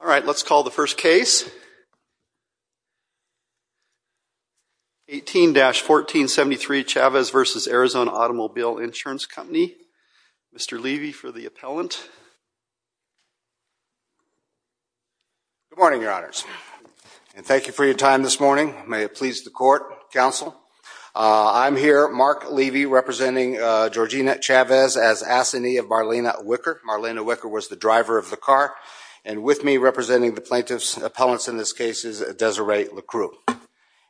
All right, let's call the first case. 18-1473 Chavez v. Arizona Automobile Ins. Co. Mr. Levy for the appellant. Good morning, your honors. And thank you for your time this morning. May it please the court, counsel. I'm here, Mark Levy, representing Georgina Chavez as assignee of Marlena Wicker. Marlena Wicker was the driver of the car. And with me, representing the plaintiff's appellants in this case, is Desiree LeCru.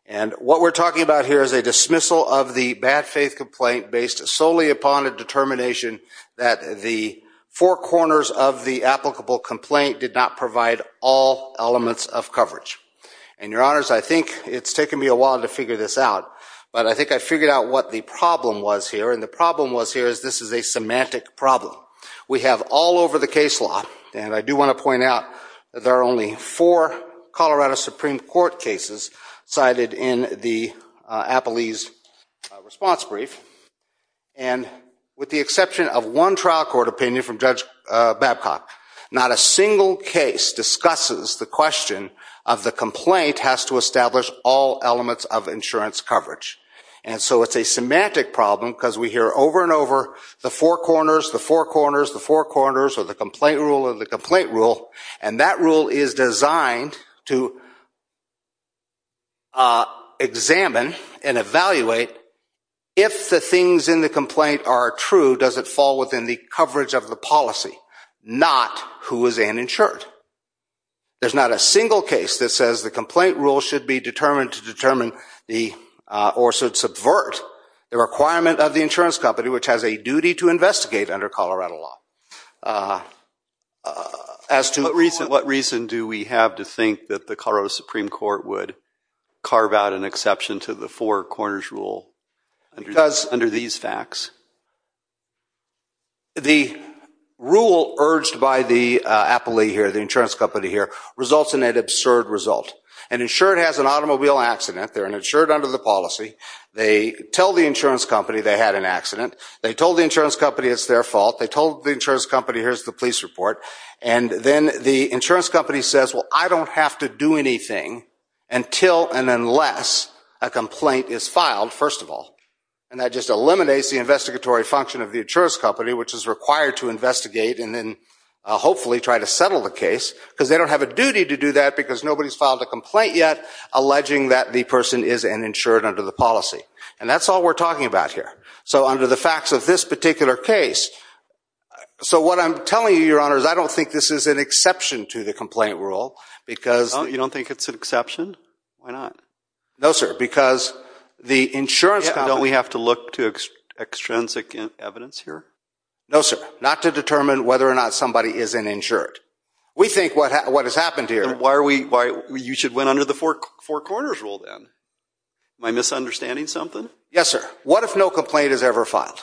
And what we're talking about here is a dismissal of the bad faith complaint based solely upon a determination that the four corners of the applicable complaint did not provide all elements of coverage. And, your honors, I think it's taken me a while to figure this out. But I think I figured out what the problem was here. And the problem was here is this is a semantic problem. We have all over the case law, and I do want to point out that there are only four Colorado Supreme Court cases cited in the appellee's response brief. And with the exception of one trial court opinion from Judge Babcock, not a single case discusses the question of the complaint has to establish all elements of insurance coverage. And so it's a semantic problem because we hear over and over the four corners, the four corners, the four corners, or the complaint rule, or the complaint rule, and that rule is designed to examine and evaluate if the things in the complaint are true, does it fall within the coverage of the policy, not who is uninsured. There's not a single case that says the complaint rule should be determined to determine or should subvert the requirement of the insurance company, which has a duty to investigate under Colorado law. What reason do we have to think that the Colorado Supreme Court would carve out an exception to the four corners rule under these facts? The rule urged by the appellee here, the insurance company here, results in an absurd result. An insured has an automobile accident. They're an insured under the policy. They tell the insurance company they had an accident. They told the insurance company it's their fault. They told the insurance company, here's the police report. And then the insurance company says, well, I don't have to do anything until and unless a complaint is filed, first of all. And that just eliminates the investigatory function of the insurance company, which is required to investigate and then hopefully try to settle the case because they don't have a duty to do that because nobody's filed a complaint yet alleging that the person is an insured under the policy. And that's all we're talking about here. So under the facts of this particular case. So what I'm telling you, Your Honor, is I don't think this is an exception to the complaint rule because – You don't think it's an exception? Why not? No, sir, because the insurance company – Don't we have to look to extrinsic evidence here? No, sir. Not to determine whether or not somebody is an insured. We think what has happened here – Why are we – you should win under the Four Corners rule then. Am I misunderstanding something? Yes, sir. What if no complaint is ever filed?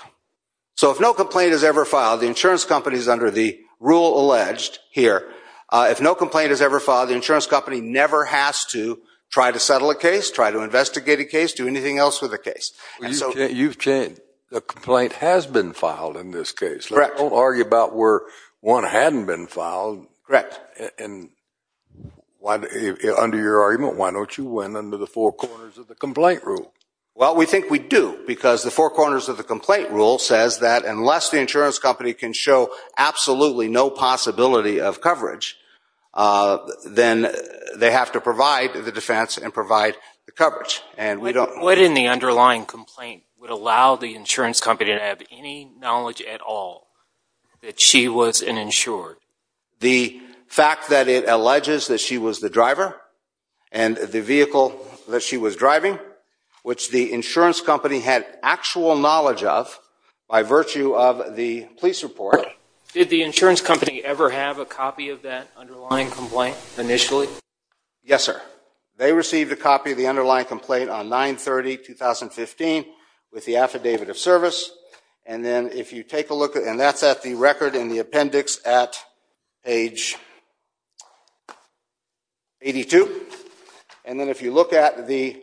So if no complaint is ever filed, the insurance company is under the rule alleged here. If no complaint is ever filed, the insurance company never has to try to settle a case, try to investigate a case, do anything else with a case. You've changed. A complaint has been filed in this case. Correct. Don't argue about where one hadn't been filed. Correct. Under your argument, why don't you win under the Four Corners of the complaint rule? Well, we think we do because the Four Corners of the complaint rule says that unless the insurance company can show absolutely no possibility of coverage, then they have to provide the defense and provide the coverage. What in the underlying complaint would allow the insurance company to have any knowledge at all that she was an insured? The fact that it alleges that she was the driver and the vehicle that she was driving, which the insurance company had actual knowledge of by virtue of the police report. Did the insurance company ever have a copy of that underlying complaint initially? Yes, sir. They received a copy of the underlying complaint on 9-30-2015 with the affidavit of service. And that's at the record in the appendix at page 82. And then if you look at the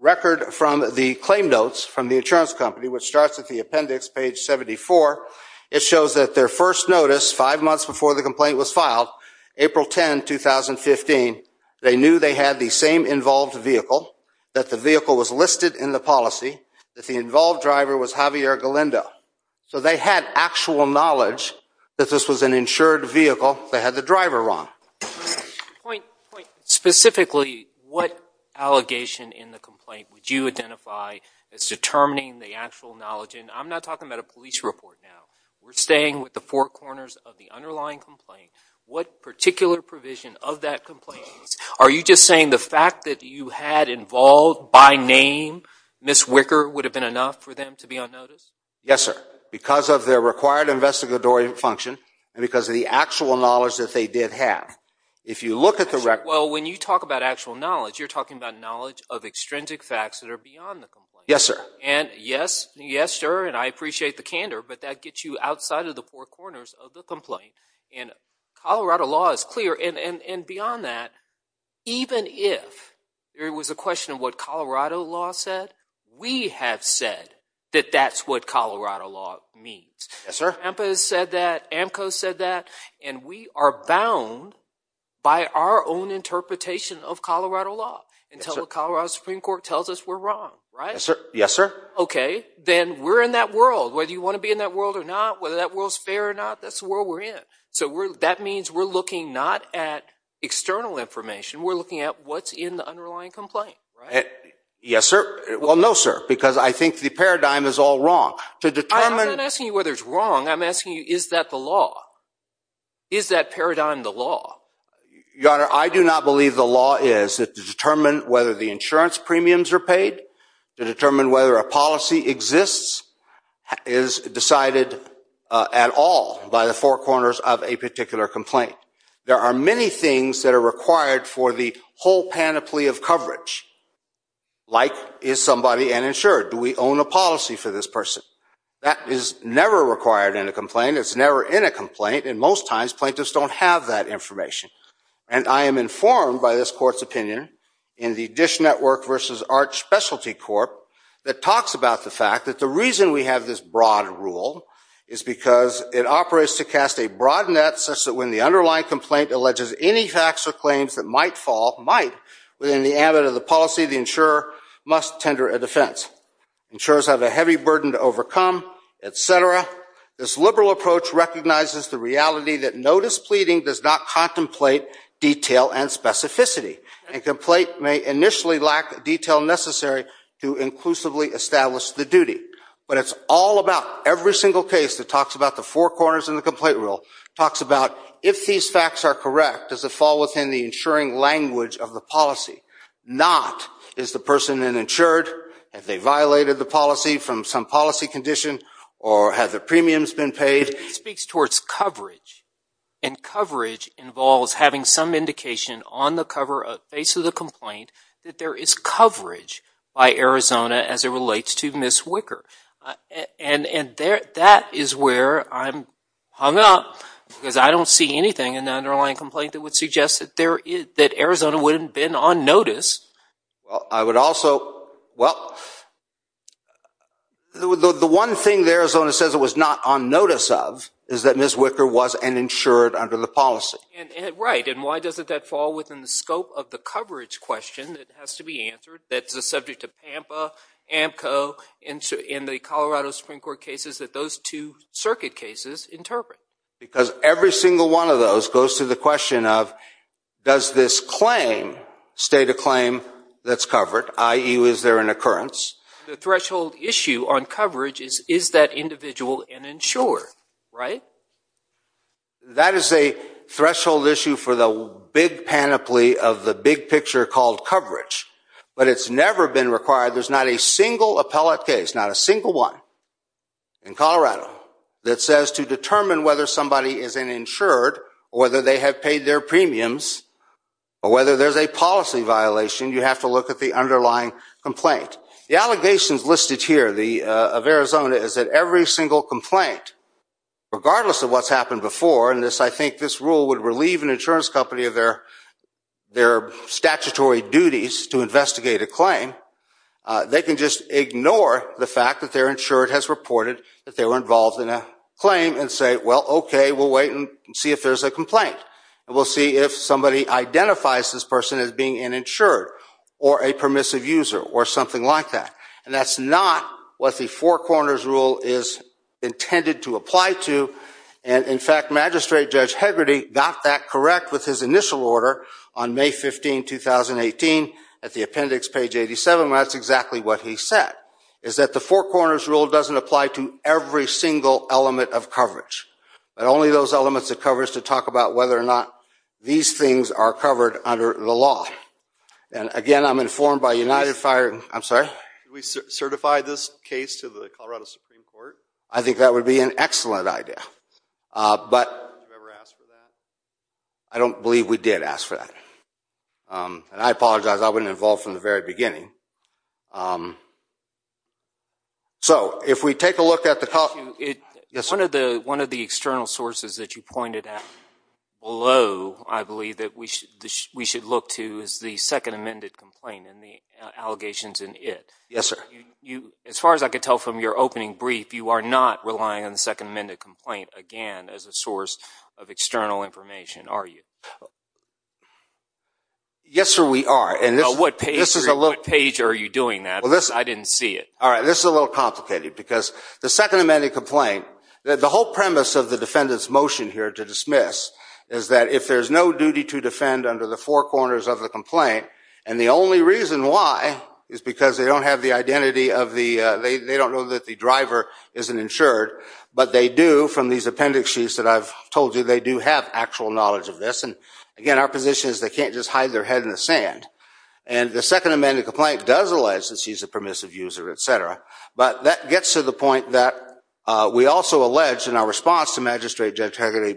record from the claim notes from the insurance company, which starts at the appendix, page 74, it shows that their first notice five months before the complaint was filed, April 10, 2015, they knew they had the same involved vehicle, that the vehicle was listed in the policy, that the involved driver was Javier Galindo. So they had actual knowledge that this was an insured vehicle. They had the driver wrong. Point specifically, what allegation in the complaint would you identify as determining the actual knowledge? And I'm not talking about a police report now. We're staying with the four corners of the underlying complaint. What particular provision of that complaint? Are you just saying the fact that you had involved by name, Ms. Wicker, would have been enough for them to be on notice? Yes, sir. Because of their required investigatory function and because of the actual knowledge that they did have. If you look at the record. Well, when you talk about actual knowledge, you're talking about knowledge of extrinsic facts that are beyond the complaint. Yes, sir. And yes, yes, sir, and I appreciate the candor, but that gets you outside of the four corners of the complaint. And Colorado law is clear. And beyond that, even if there was a question of what Colorado law said, we have said that that's what Colorado law means. Yes, sir. SAMHSA has said that. AMCO said that. And we are bound by our own interpretation of Colorado law until the Colorado Supreme Court tells us we're wrong, right? Yes, sir. Okay. Then we're in that world. Whether you want to be in that world or not, whether that world's fair or not, that's the world we're in. So that means we're looking not at external information. We're looking at what's in the underlying complaint, right? Yes, sir. Well, no, sir, because I think the paradigm is all wrong. I'm not asking you whether it's wrong. I'm asking you, is that the law? Is that paradigm the law? Your Honor, I do not believe the law is. To determine whether the insurance premiums are paid, to determine whether a policy exists is decided at all by the four corners of a particular complaint. There are many things that are required for the whole panoply of coverage, like is somebody uninsured? Do we own a policy for this person? That is never required in a complaint. It's never in a complaint. And most times, plaintiffs don't have that information. And I am informed by this court's opinion in the Dish Network v. Arch Specialty Corp. that talks about the fact that the reason we have this broad rule is because it operates to cast a broad net such that when the underlying complaint alleges any facts or claims that might fall, might, within the ambit of the policy, the insurer must tender a defense. Insurers have a heavy burden to overcome, et cetera. This liberal approach recognizes the reality that notice pleading does not contemplate detail and specificity, and complaint may initially lack the detail necessary to inclusively establish the duty. But it's all about every single case that talks about the four corners in the complaint rule, talks about if these facts are correct, does it fall within the insuring language of the policy? Not is the person uninsured, have they violated the policy from some policy condition, or have their premiums been paid? It speaks towards coverage, and coverage involves having some indication on the cover, face of the complaint, that there is coverage by Arizona as it relates to Ms. Wicker. And that is where I'm hung up, because I don't see anything in the underlying complaint that would suggest that Arizona wouldn't have been on notice. Well, I would also, well, the one thing that Arizona says it was not on notice of is that Ms. Wicker was uninsured under the policy. Right, and why doesn't that fall within the scope of the coverage question that has to be answered that's subject to PAMPA, AMCO, and the Colorado Supreme Court cases that those two circuit cases interpret? Because every single one of those goes to the question of, does this claim state a claim that's covered, i.e., was there an occurrence? The threshold issue on coverage is, is that individual uninsured, right? That is a threshold issue for the big panoply of the big picture called coverage. But it's never been required, there's not a single appellate case, not a single one in Colorado, that says to determine whether somebody is an insured or whether they have paid their premiums or whether there's a policy violation, you have to look at the underlying complaint. The allegations listed here of Arizona is that every single complaint, regardless of what's happened before, and I think this rule would relieve an insurance company of their statutory duties to investigate a claim, they can just ignore the fact that they're insured has reported that they were involved in a claim and say, well, okay, we'll wait and see if there's a complaint. And we'll see if somebody identifies this person as being an insured or a permissive user or something like that. And that's not what the Four Corners Rule is intended to apply to. And in fact, Magistrate Judge Hegarty got that correct with his initial order on May 15, 2018, at the appendix, page 87, and that's exactly what he said, is that the Four Corners Rule doesn't apply to every single element of coverage, but only those elements it covers to talk about whether or not these things are covered under the law. And again, I'm informed by United Fire, I'm sorry? We certify this case to the Colorado Supreme Court? I think that would be an excellent idea. But have you ever asked for that? I don't believe we did ask for that. And I apologize. I wasn't involved from the very beginning. So if we take a look at the – One of the external sources that you pointed at below, I believe, that we should look to is the second amended complaint and the allegations in it. Yes, sir. As far as I could tell from your opening brief, you are not relying on the second amended complaint, again, as a source of external information, are you? Yes, sir, we are. What page are you doing that? I didn't see it. All right, this is a little complicated because the second amended complaint, the whole premise of the defendant's motion here to dismiss is that if there's no duty to defend under the four corners of the complaint, and the only reason why is because they don't have the identity of the – they don't know that the driver isn't insured, but they do from these appendix sheets that I've told you, they do have actual knowledge of this. And, again, our position is they can't just hide their head in the sand. And the second amended complaint does allege that she's a permissive user, et cetera, but that gets to the point that we also allege in our response to Magistrate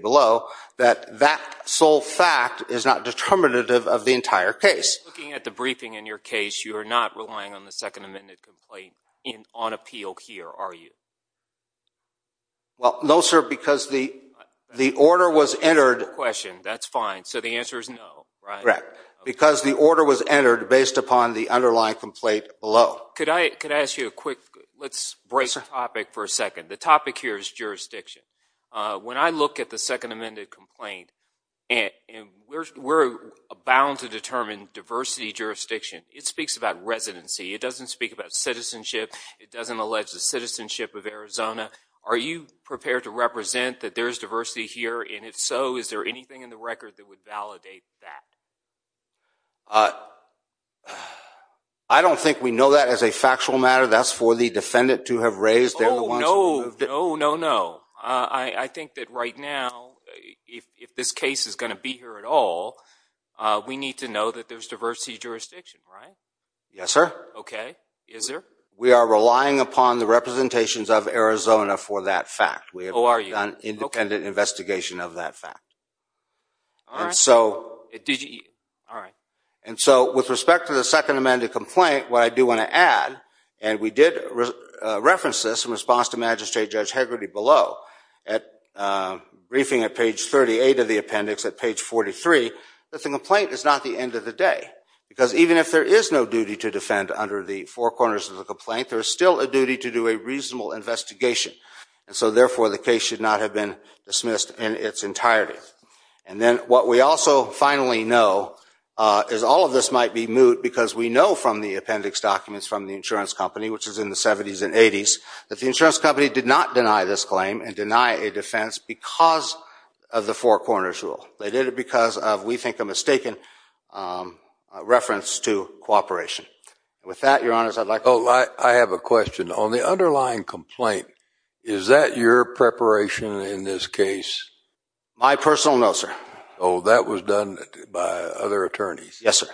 below that that sole fact is not determinative of the entire case. Looking at the briefing in your case, you are not relying on the second amended complaint on appeal here, are you? Well, no, sir, because the order was entered – That's a good question. That's fine. So the answer is no, right? Correct. Because the order was entered based upon the underlying complaint below. Could I ask you a quick – let's break topic for a second. The topic here is jurisdiction. When I look at the second amended complaint, we're bound to determine diversity jurisdiction. It speaks about residency. It doesn't speak about citizenship. It doesn't allege the citizenship of Arizona. Are you prepared to represent that there is diversity here? And, if so, is there anything in the record that would validate that? I don't think we know that as a factual matter. That's for the defendant to have raised. Oh, no. No, no, no. I think that right now, if this case is going to be here at all, we need to know that there's diversity jurisdiction, right? Yes, sir. Okay. Is there? We are relying upon the representations of Arizona for that fact. Oh, are you? We have an independent investigation of that fact. With respect to the second amended complaint, what I do want to add, and we did reference this in response to Magistrate Judge Hegarty below, at briefing at page 38 of the appendix, at page 43, that the complaint is not the end of the day. Because even if there is no duty to defend under the four corners of the complaint, there is still a duty to do a reasonable investigation. And so, therefore, the case should not have been dismissed in its entirety. And then what we also finally know is all of this might be moot because we know from the appendix documents from the insurance company, which is in the 70s and 80s, that the insurance company did not deny this claim and deny a defense because of the four corners rule. They did it because of, we think, a mistaken reference to cooperation. With that, Your Honors, I'd like to... Oh, I have a question. On the underlying complaint, is that your preparation in this case? My personal no, sir. Oh, that was done by other attorneys? Yes, sir.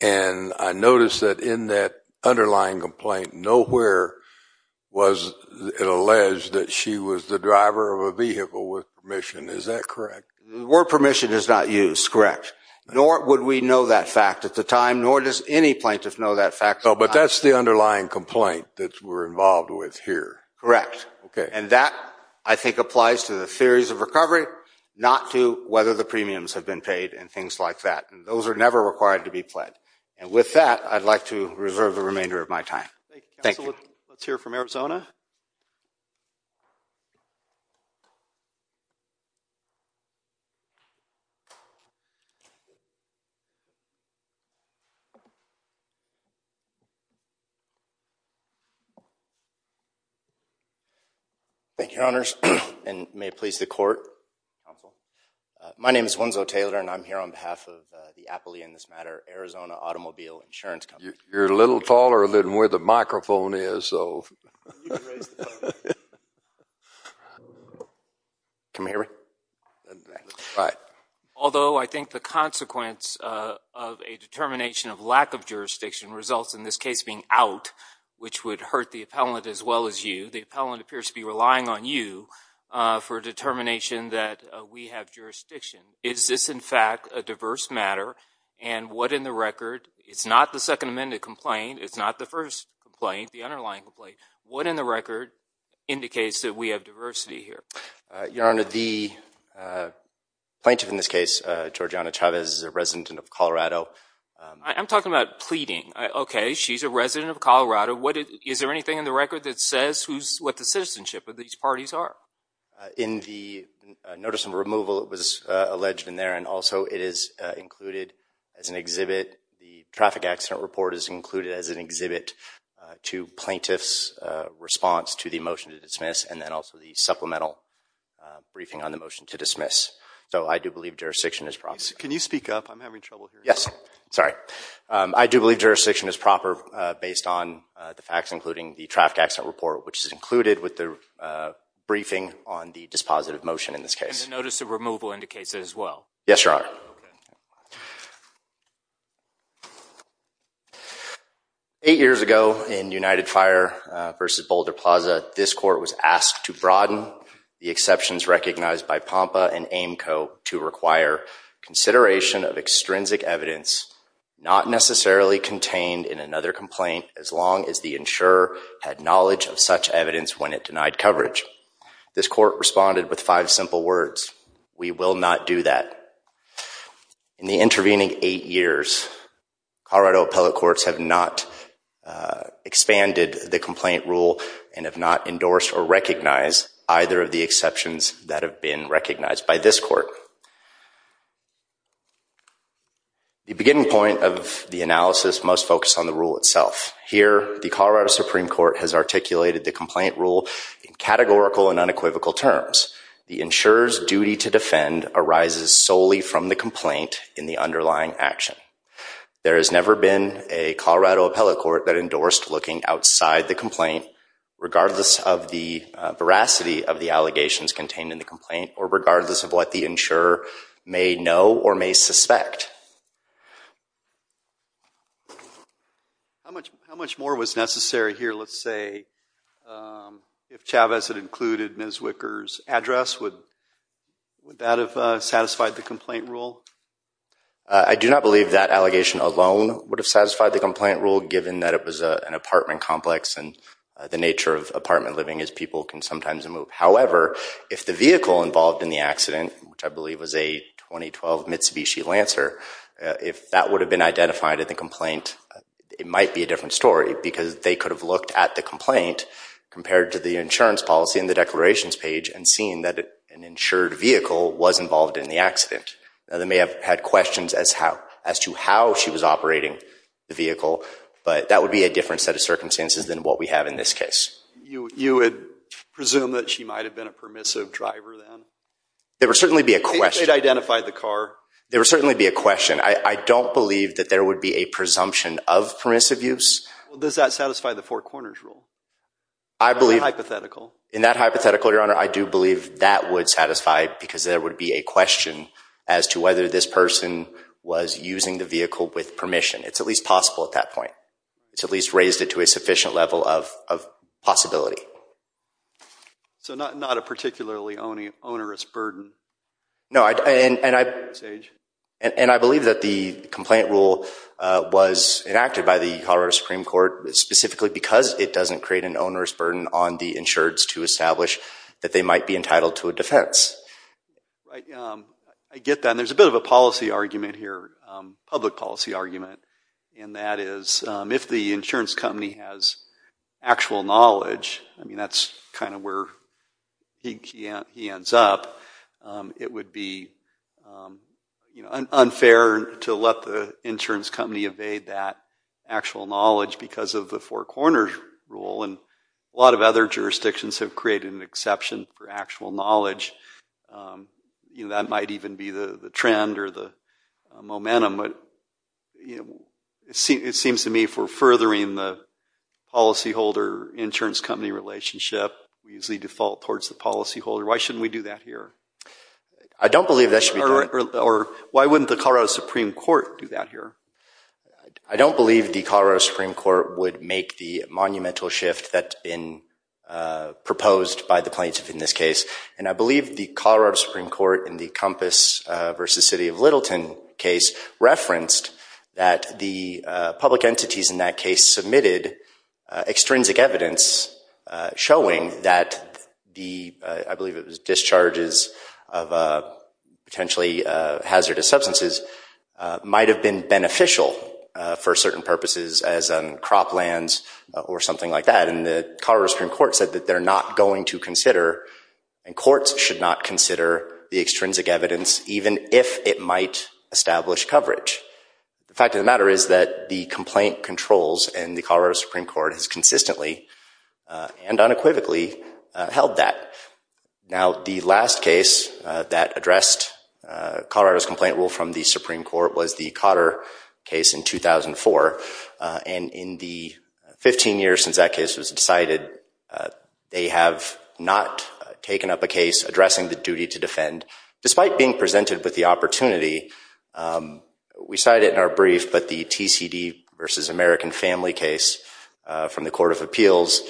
And I noticed that in that underlying complaint, nowhere was it alleged that she was the driver of a vehicle with permission. Is that correct? The word permission is not used, correct. Nor would we know that fact at the time, nor does any plaintiff know that fact at the time. But that's the underlying complaint that we're involved with here. Correct. And that, I think, applies to the theories of recovery, not to whether the premiums have been paid and things like that. Those are never required to be pled. And with that, I'd like to reserve the remainder of my time. Thank you, Counsel. Let's hear from Arizona. Thank you, Your Honors, and may it please the Court, Counsel. My name is Wenzo Taylor, and I'm here on behalf of the Appalachian, in this matter, Arizona Automobile Insurance Company. You're a little taller than where the microphone is, so. Can we hear it? All right. Although I think the consequence of a determination of lack of jurisdiction results in this case being out, which would hurt the appellant as well as you, the appellant appears to be relying on you for a determination that we have jurisdiction. Is this, in fact, a diverse matter? And what in the record? It's not the Second Amendment complaint. It's not the first complaint, the underlying complaint. What in the record indicates that we have diversity here? Your Honor, the plaintiff in this case, Georgiana Chavez, is a resident of Colorado. I'm talking about pleading. Okay, she's a resident of Colorado. Is there anything in the record that says what the citizenship of these parties are? In the notice of removal, it was alleged in there, and also it is included as an exhibit. The traffic accident report is included as an exhibit to plaintiff's response to the motion to dismiss, and then also the supplemental briefing on the motion to dismiss. So I do believe jurisdiction is proper. Can you speak up? I'm having trouble hearing you. Yes, sorry. I do believe jurisdiction is proper based on the facts, including the traffic accident report, which is included with the briefing on the dispositive motion in this case. And the notice of removal indicates it as well? Yes, Your Honor. Okay. Eight years ago in United Fire v. Boulder Plaza, this court was asked to broaden the exceptions recognized by POMPA and AIMCO to require consideration of extrinsic evidence not necessarily contained in another complaint as long as the insurer had knowledge of such evidence when it denied coverage. This court responded with five simple words, we will not do that. In the intervening eight years, Colorado appellate courts have not expanded the complaint rule and have not endorsed or recognized either of the exceptions that have been recognized by this court. The beginning point of the analysis most focused on the rule itself. Here, the Colorado Supreme Court has articulated the complaint rule in categorical and unequivocal terms. The insurer's duty to defend arises solely from the complaint in the underlying action. There has never been a Colorado appellate court that endorsed looking outside the complaint, regardless of the veracity of the allegations contained in the complaint or regardless of what the insurer may know or may suspect. How much more was necessary here, let's say, if Chavez had included Ms. Wicker's address, would that have satisfied the complaint rule? I do not believe that allegation alone would have satisfied the complaint rule given that it was an apartment complex and the nature of apartment living is people can sometimes move. However, if the vehicle involved in the accident, which I believe was a 2012 Mitsubishi Lancer, if that would have been identified in the complaint, it might be a different story because they could have looked at the complaint compared to the insurance policy in the declarations page and seen that an insured vehicle was involved in the accident. They may have had questions as to how she was operating the vehicle, but that would be a different set of circumstances than what we have in this case. You would presume that she might have been a permissive driver then? There would certainly be a question. If they had identified the car? There would certainly be a question. I don't believe that there would be a presumption of permissive use. Does that satisfy the Four Corners rule? In that hypothetical, Your Honor, I do believe that would satisfy because there would be a question as to whether this person was using the vehicle with permission. It's at least possible at that point. It's at least raised it to a sufficient level of possibility. So not a particularly onerous burden? No, and I believe that the complaint rule was enacted by the Colorado Supreme Court specifically because it doesn't create an onerous burden on the insureds to establish that they might be entitled to a defense. I get that, and there's a bit of a policy argument here, a public policy argument, and that is if the insurance company has actual knowledge, I mean that's kind of where he ends up, it would be unfair to let the insurance company evade that actual knowledge because of the Four Corners rule, and a lot of other jurisdictions have created an exception for actual knowledge. That might even be the trend or the momentum, but it seems to me if we're furthering the policyholder-insurance company relationship, we usually default towards the policyholder. Why shouldn't we do that here? I don't believe that should be done. Or why wouldn't the Colorado Supreme Court do that here? I don't believe the Colorado Supreme Court would make the monumental shift that's been proposed by the plaintiff in this case, and I believe the Colorado Supreme Court in the Compass v. City of Littleton case referenced that the public entities in that case submitted extrinsic evidence showing that the, I believe it was discharges of potentially hazardous substances, might have been beneficial for certain purposes as in croplands or something like that, and the Colorado Supreme Court said that they're not going to consider, and courts should not consider the extrinsic evidence even if it might establish coverage. The fact of the matter is that the complaint controls in the Colorado Supreme Court has consistently and unequivocally held that. Now, the last case that addressed Colorado's complaint rule from the Supreme Court was the Cotter case in 2004, and in the 15 years since that case was decided, they have not taken up a case addressing the duty to defend. Despite being presented with the opportunity, we cite it in our brief, but the TCD v. American Family case from the Court of Appeals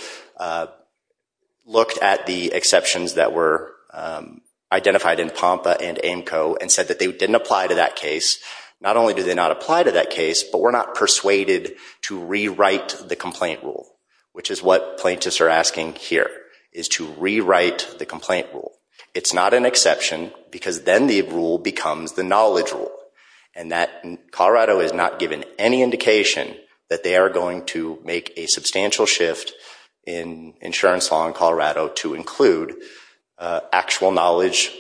looked at the exceptions that were identified in POMPA and AAMCO and said that they didn't apply to that case. Not only do they not apply to that case, but we're not persuaded to rewrite the complaint rule, which is what plaintiffs are asking here, is to rewrite the complaint rule. It's not an exception because then the rule becomes the knowledge rule, and Colorado has not given any indication that they are going to make a substantial shift in insurance law in Colorado to include actual knowledge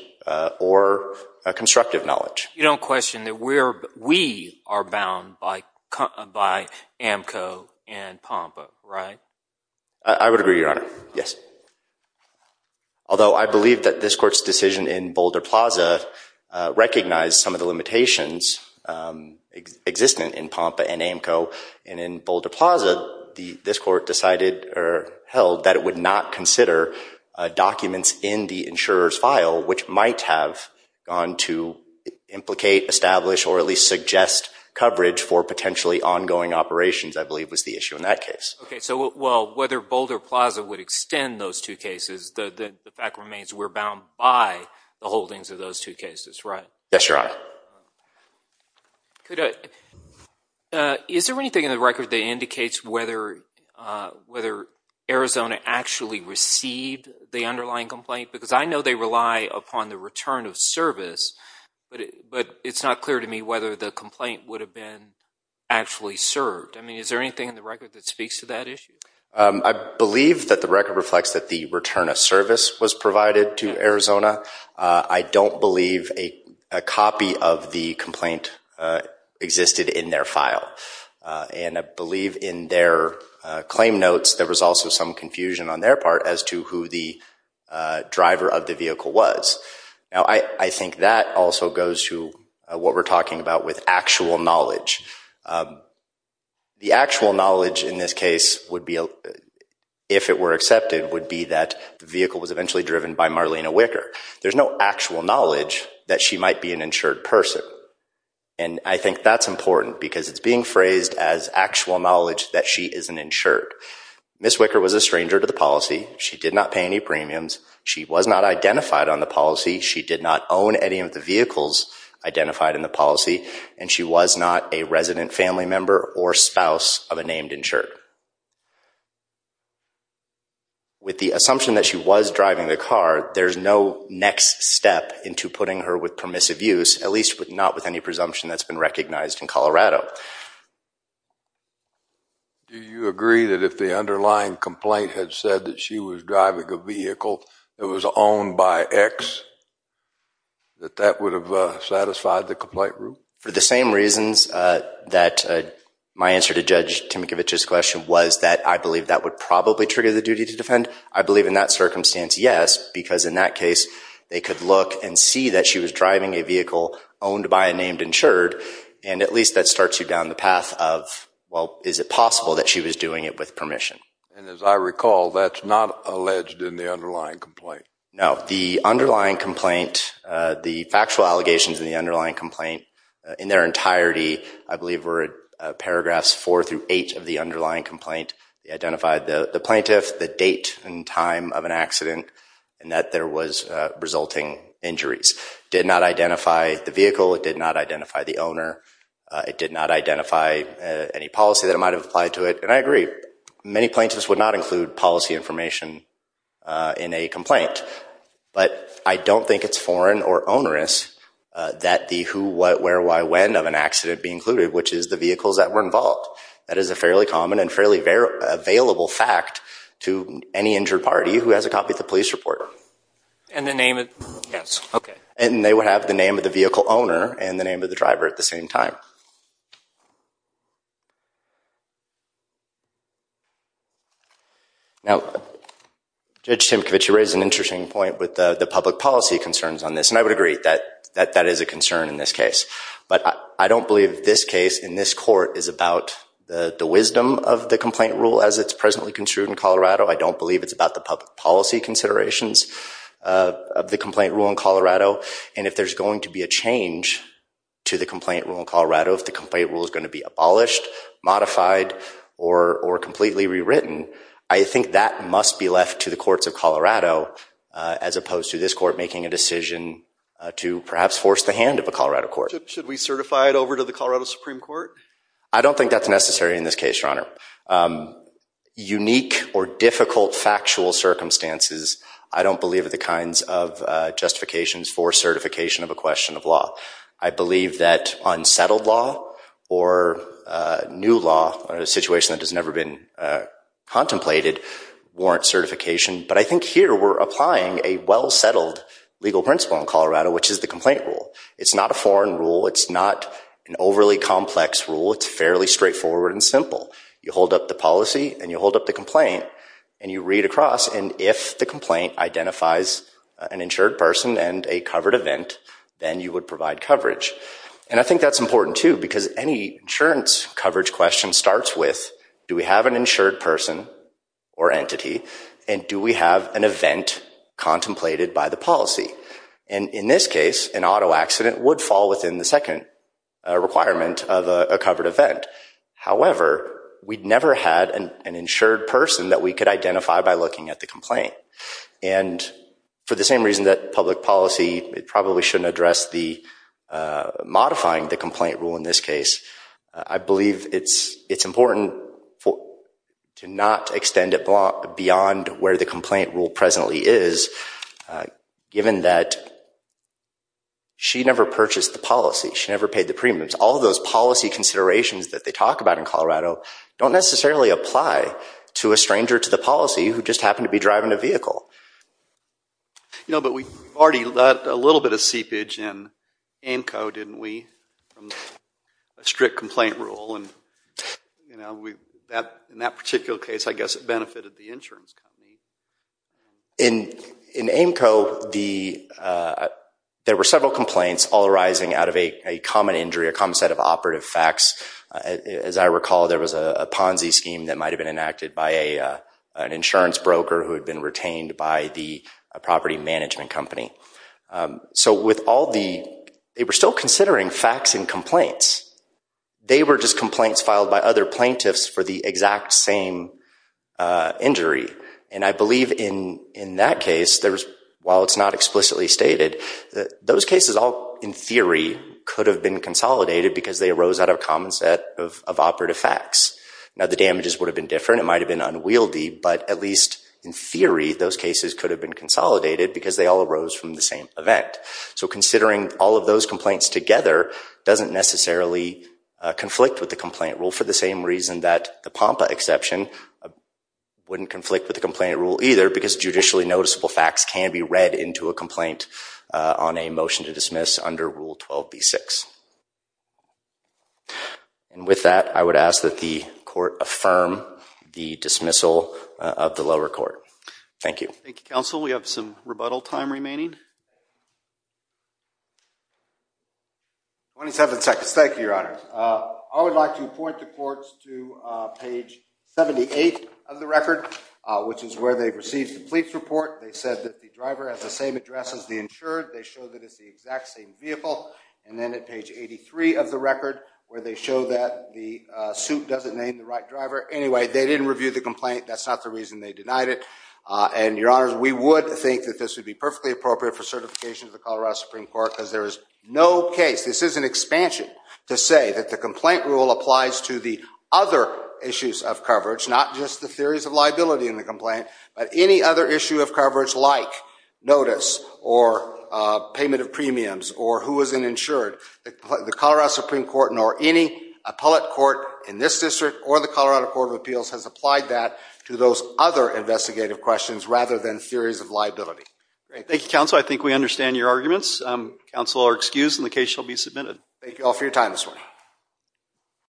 or constructive knowledge. You don't question that we are bound by AAMCO and POMPA, right? I would agree, Your Honor. Yes. Although I believe that this Court's decision in Boulder Plaza recognized some of the limitations existing in POMPA and AAMCO, and in Boulder Plaza, this Court decided or held that it would not consider documents in the insurer's file which might have gone to implicate, establish, or at least suggest coverage for potentially ongoing operations, I believe was the issue in that case. Okay. So, well, whether Boulder Plaza would extend those two cases, the fact remains we're bound by the holdings of those two cases, right? Yes, Your Honor. Is there anything in the record that indicates whether Arizona actually received the underlying complaint? Because I know they rely upon the return of service, but it's not clear to me whether the complaint would have been actually served. I mean, is there anything in the record that speaks to that issue? I believe that the record reflects that the return of service was provided to Arizona. I don't believe a copy of the complaint existed in their file, and I believe in their claim notes there was also some confusion on their part as to who the driver of the vehicle was. Now, I think that also goes to what we're talking about with actual knowledge. The actual knowledge in this case would be, if it were accepted, would be that the vehicle was eventually driven by Marlena Wicker. There's no actual knowledge that she might be an insured person, and I think that's important because it's being phrased as actual knowledge that she is an insured. Ms. Wicker was a stranger to the policy. She did not pay any premiums. She was not identified on the policy. She did not own any of the vehicles identified in the policy, and she was not a resident family member or spouse of a named insured. With the assumption that she was driving the car, there's no next step into putting her with permissive use, at least not with any presumption that's been recognized in Colorado. Do you agree that if the underlying complaint had said that she was driving a vehicle that was owned by X, that that would have satisfied the complaint rule? For the same reasons that my answer to Judge Timkevich's question was that I believe that would probably trigger the duty to defend, I believe in that circumstance, yes, because in that case, they could look and see that she was driving a vehicle owned by a named insured, and at least that starts you down the path of, well, is it possible that she was doing it with permission? And as I recall, that's not alleged in the underlying complaint. No. The underlying complaint, the factual allegations in the underlying complaint, in their entirety, I believe were paragraphs 4 through 8 of the underlying complaint. They identified the plaintiff, the date and time of an accident, and that there was resulting injuries. Did not identify the vehicle. It did not identify the owner. It did not identify any policy that might have applied to it. And I agree. Many plaintiffs would not include policy information in a complaint, but I don't think it's foreign or onerous that the who, what, where, why, when of an accident be included, which is the vehicles that were involved. That is a fairly common and fairly available fact to any injured party who has a copy of the police report. And the name? Yes. Okay. And they would have the name of the vehicle owner and the name of the driver at the same time. Now, Judge Timkovich, you raise an interesting point with the public policy concerns on this, and I would agree that that is a concern in this case. But I don't believe this case in this court is about the wisdom of the complaint rule as it's presently construed in Colorado. I don't believe it's about the public policy considerations of the complaint rule in Colorado. And if there's going to be a change to the complaint rule in Colorado, if the complaint rule is going to be abolished, modified, or completely rewritten, I think that must be left to the courts of Colorado as opposed to this court making a decision to perhaps force the hand of a Colorado court. Should we certify it over to the Colorado Supreme Court? I don't think that's necessary in this case, Your Honor. Unique or difficult factual circumstances, I don't believe are the kinds of justifications for certification of a question of law. I believe that unsettled law or new law, a situation that has never been contemplated, warrants certification. But I think here we're applying a well-settled legal principle in Colorado, which is the complaint rule. It's not a foreign rule. It's not an overly complex rule. It's fairly straightforward and simple. You hold up the policy, and you hold up the complaint, and you read across. And if the complaint identifies an insured person and a covered event, then you would provide coverage. And I think that's important, too, because any insurance coverage question starts with, do we have an insured person or entity, and do we have an event contemplated by the policy? And in this case, an auto accident would fall within the second requirement of a covered event. However, we'd never had an insured person that we could identify by looking at the complaint. And for the same reason that public policy probably shouldn't address the modifying the complaint rule in this case, I believe it's important to not extend it beyond where the complaint rule presently is, given that she never purchased the policy. She never paid the premiums. All of those policy considerations that they talk about in Colorado don't necessarily apply to a stranger to the policy who just happened to be driving a vehicle. You know, but we've already let a little bit of seepage in AMCO, didn't we, from the strict complaint rule? And, you know, in that particular case, I guess it benefited the insurance company. In AMCO, there were several complaints all arising out of a common injury, a common set of operative facts. As I recall, there was a Ponzi scheme that might have been enacted by an insurance broker who had been retained by the property management company. So with all the—they were still considering facts and complaints. They were just complaints filed by other plaintiffs for the exact same injury. And I believe in that case, while it's not explicitly stated, those cases all, in theory, could have been consolidated because they arose out of a common set of operative facts. Now, the damages would have been different. It might have been unwieldy, but at least in theory, those cases could have been consolidated because they all arose from the same event. So considering all of those complaints together doesn't necessarily conflict with the complaint rule and for the same reason that the POMPA exception wouldn't conflict with the complaint rule either because judicially noticeable facts can be read into a complaint on a motion to dismiss under Rule 12b-6. And with that, I would ask that the court affirm the dismissal of the lower court. Thank you. Thank you, counsel. We have some rebuttal time remaining. Twenty-seven seconds. Thank you, Your Honor. I would like to point the courts to page 78 of the record, which is where they received the police report. They said that the driver has the same address as the insured. They show that it's the exact same vehicle. And then at page 83 of the record, where they show that the suit doesn't name the right driver. Anyway, they didn't review the complaint. That's not the reason they denied it. And, Your Honors, we would think that this would be perfectly appropriate for certification of the Colorado Supreme Court because there is no case. This is an expansion to say that the complaint rule applies to the other issues of coverage, not just the theories of liability in the complaint, but any other issue of coverage like notice or payment of premiums or who is an insured. The Colorado Supreme Court nor any appellate court in this district or the Colorado Court of Appeals has applied that to those other investigative questions rather than theories of liability. I think we understand your arguments. Counsel are excused and the case shall be submitted. Thank you all for your time this morning.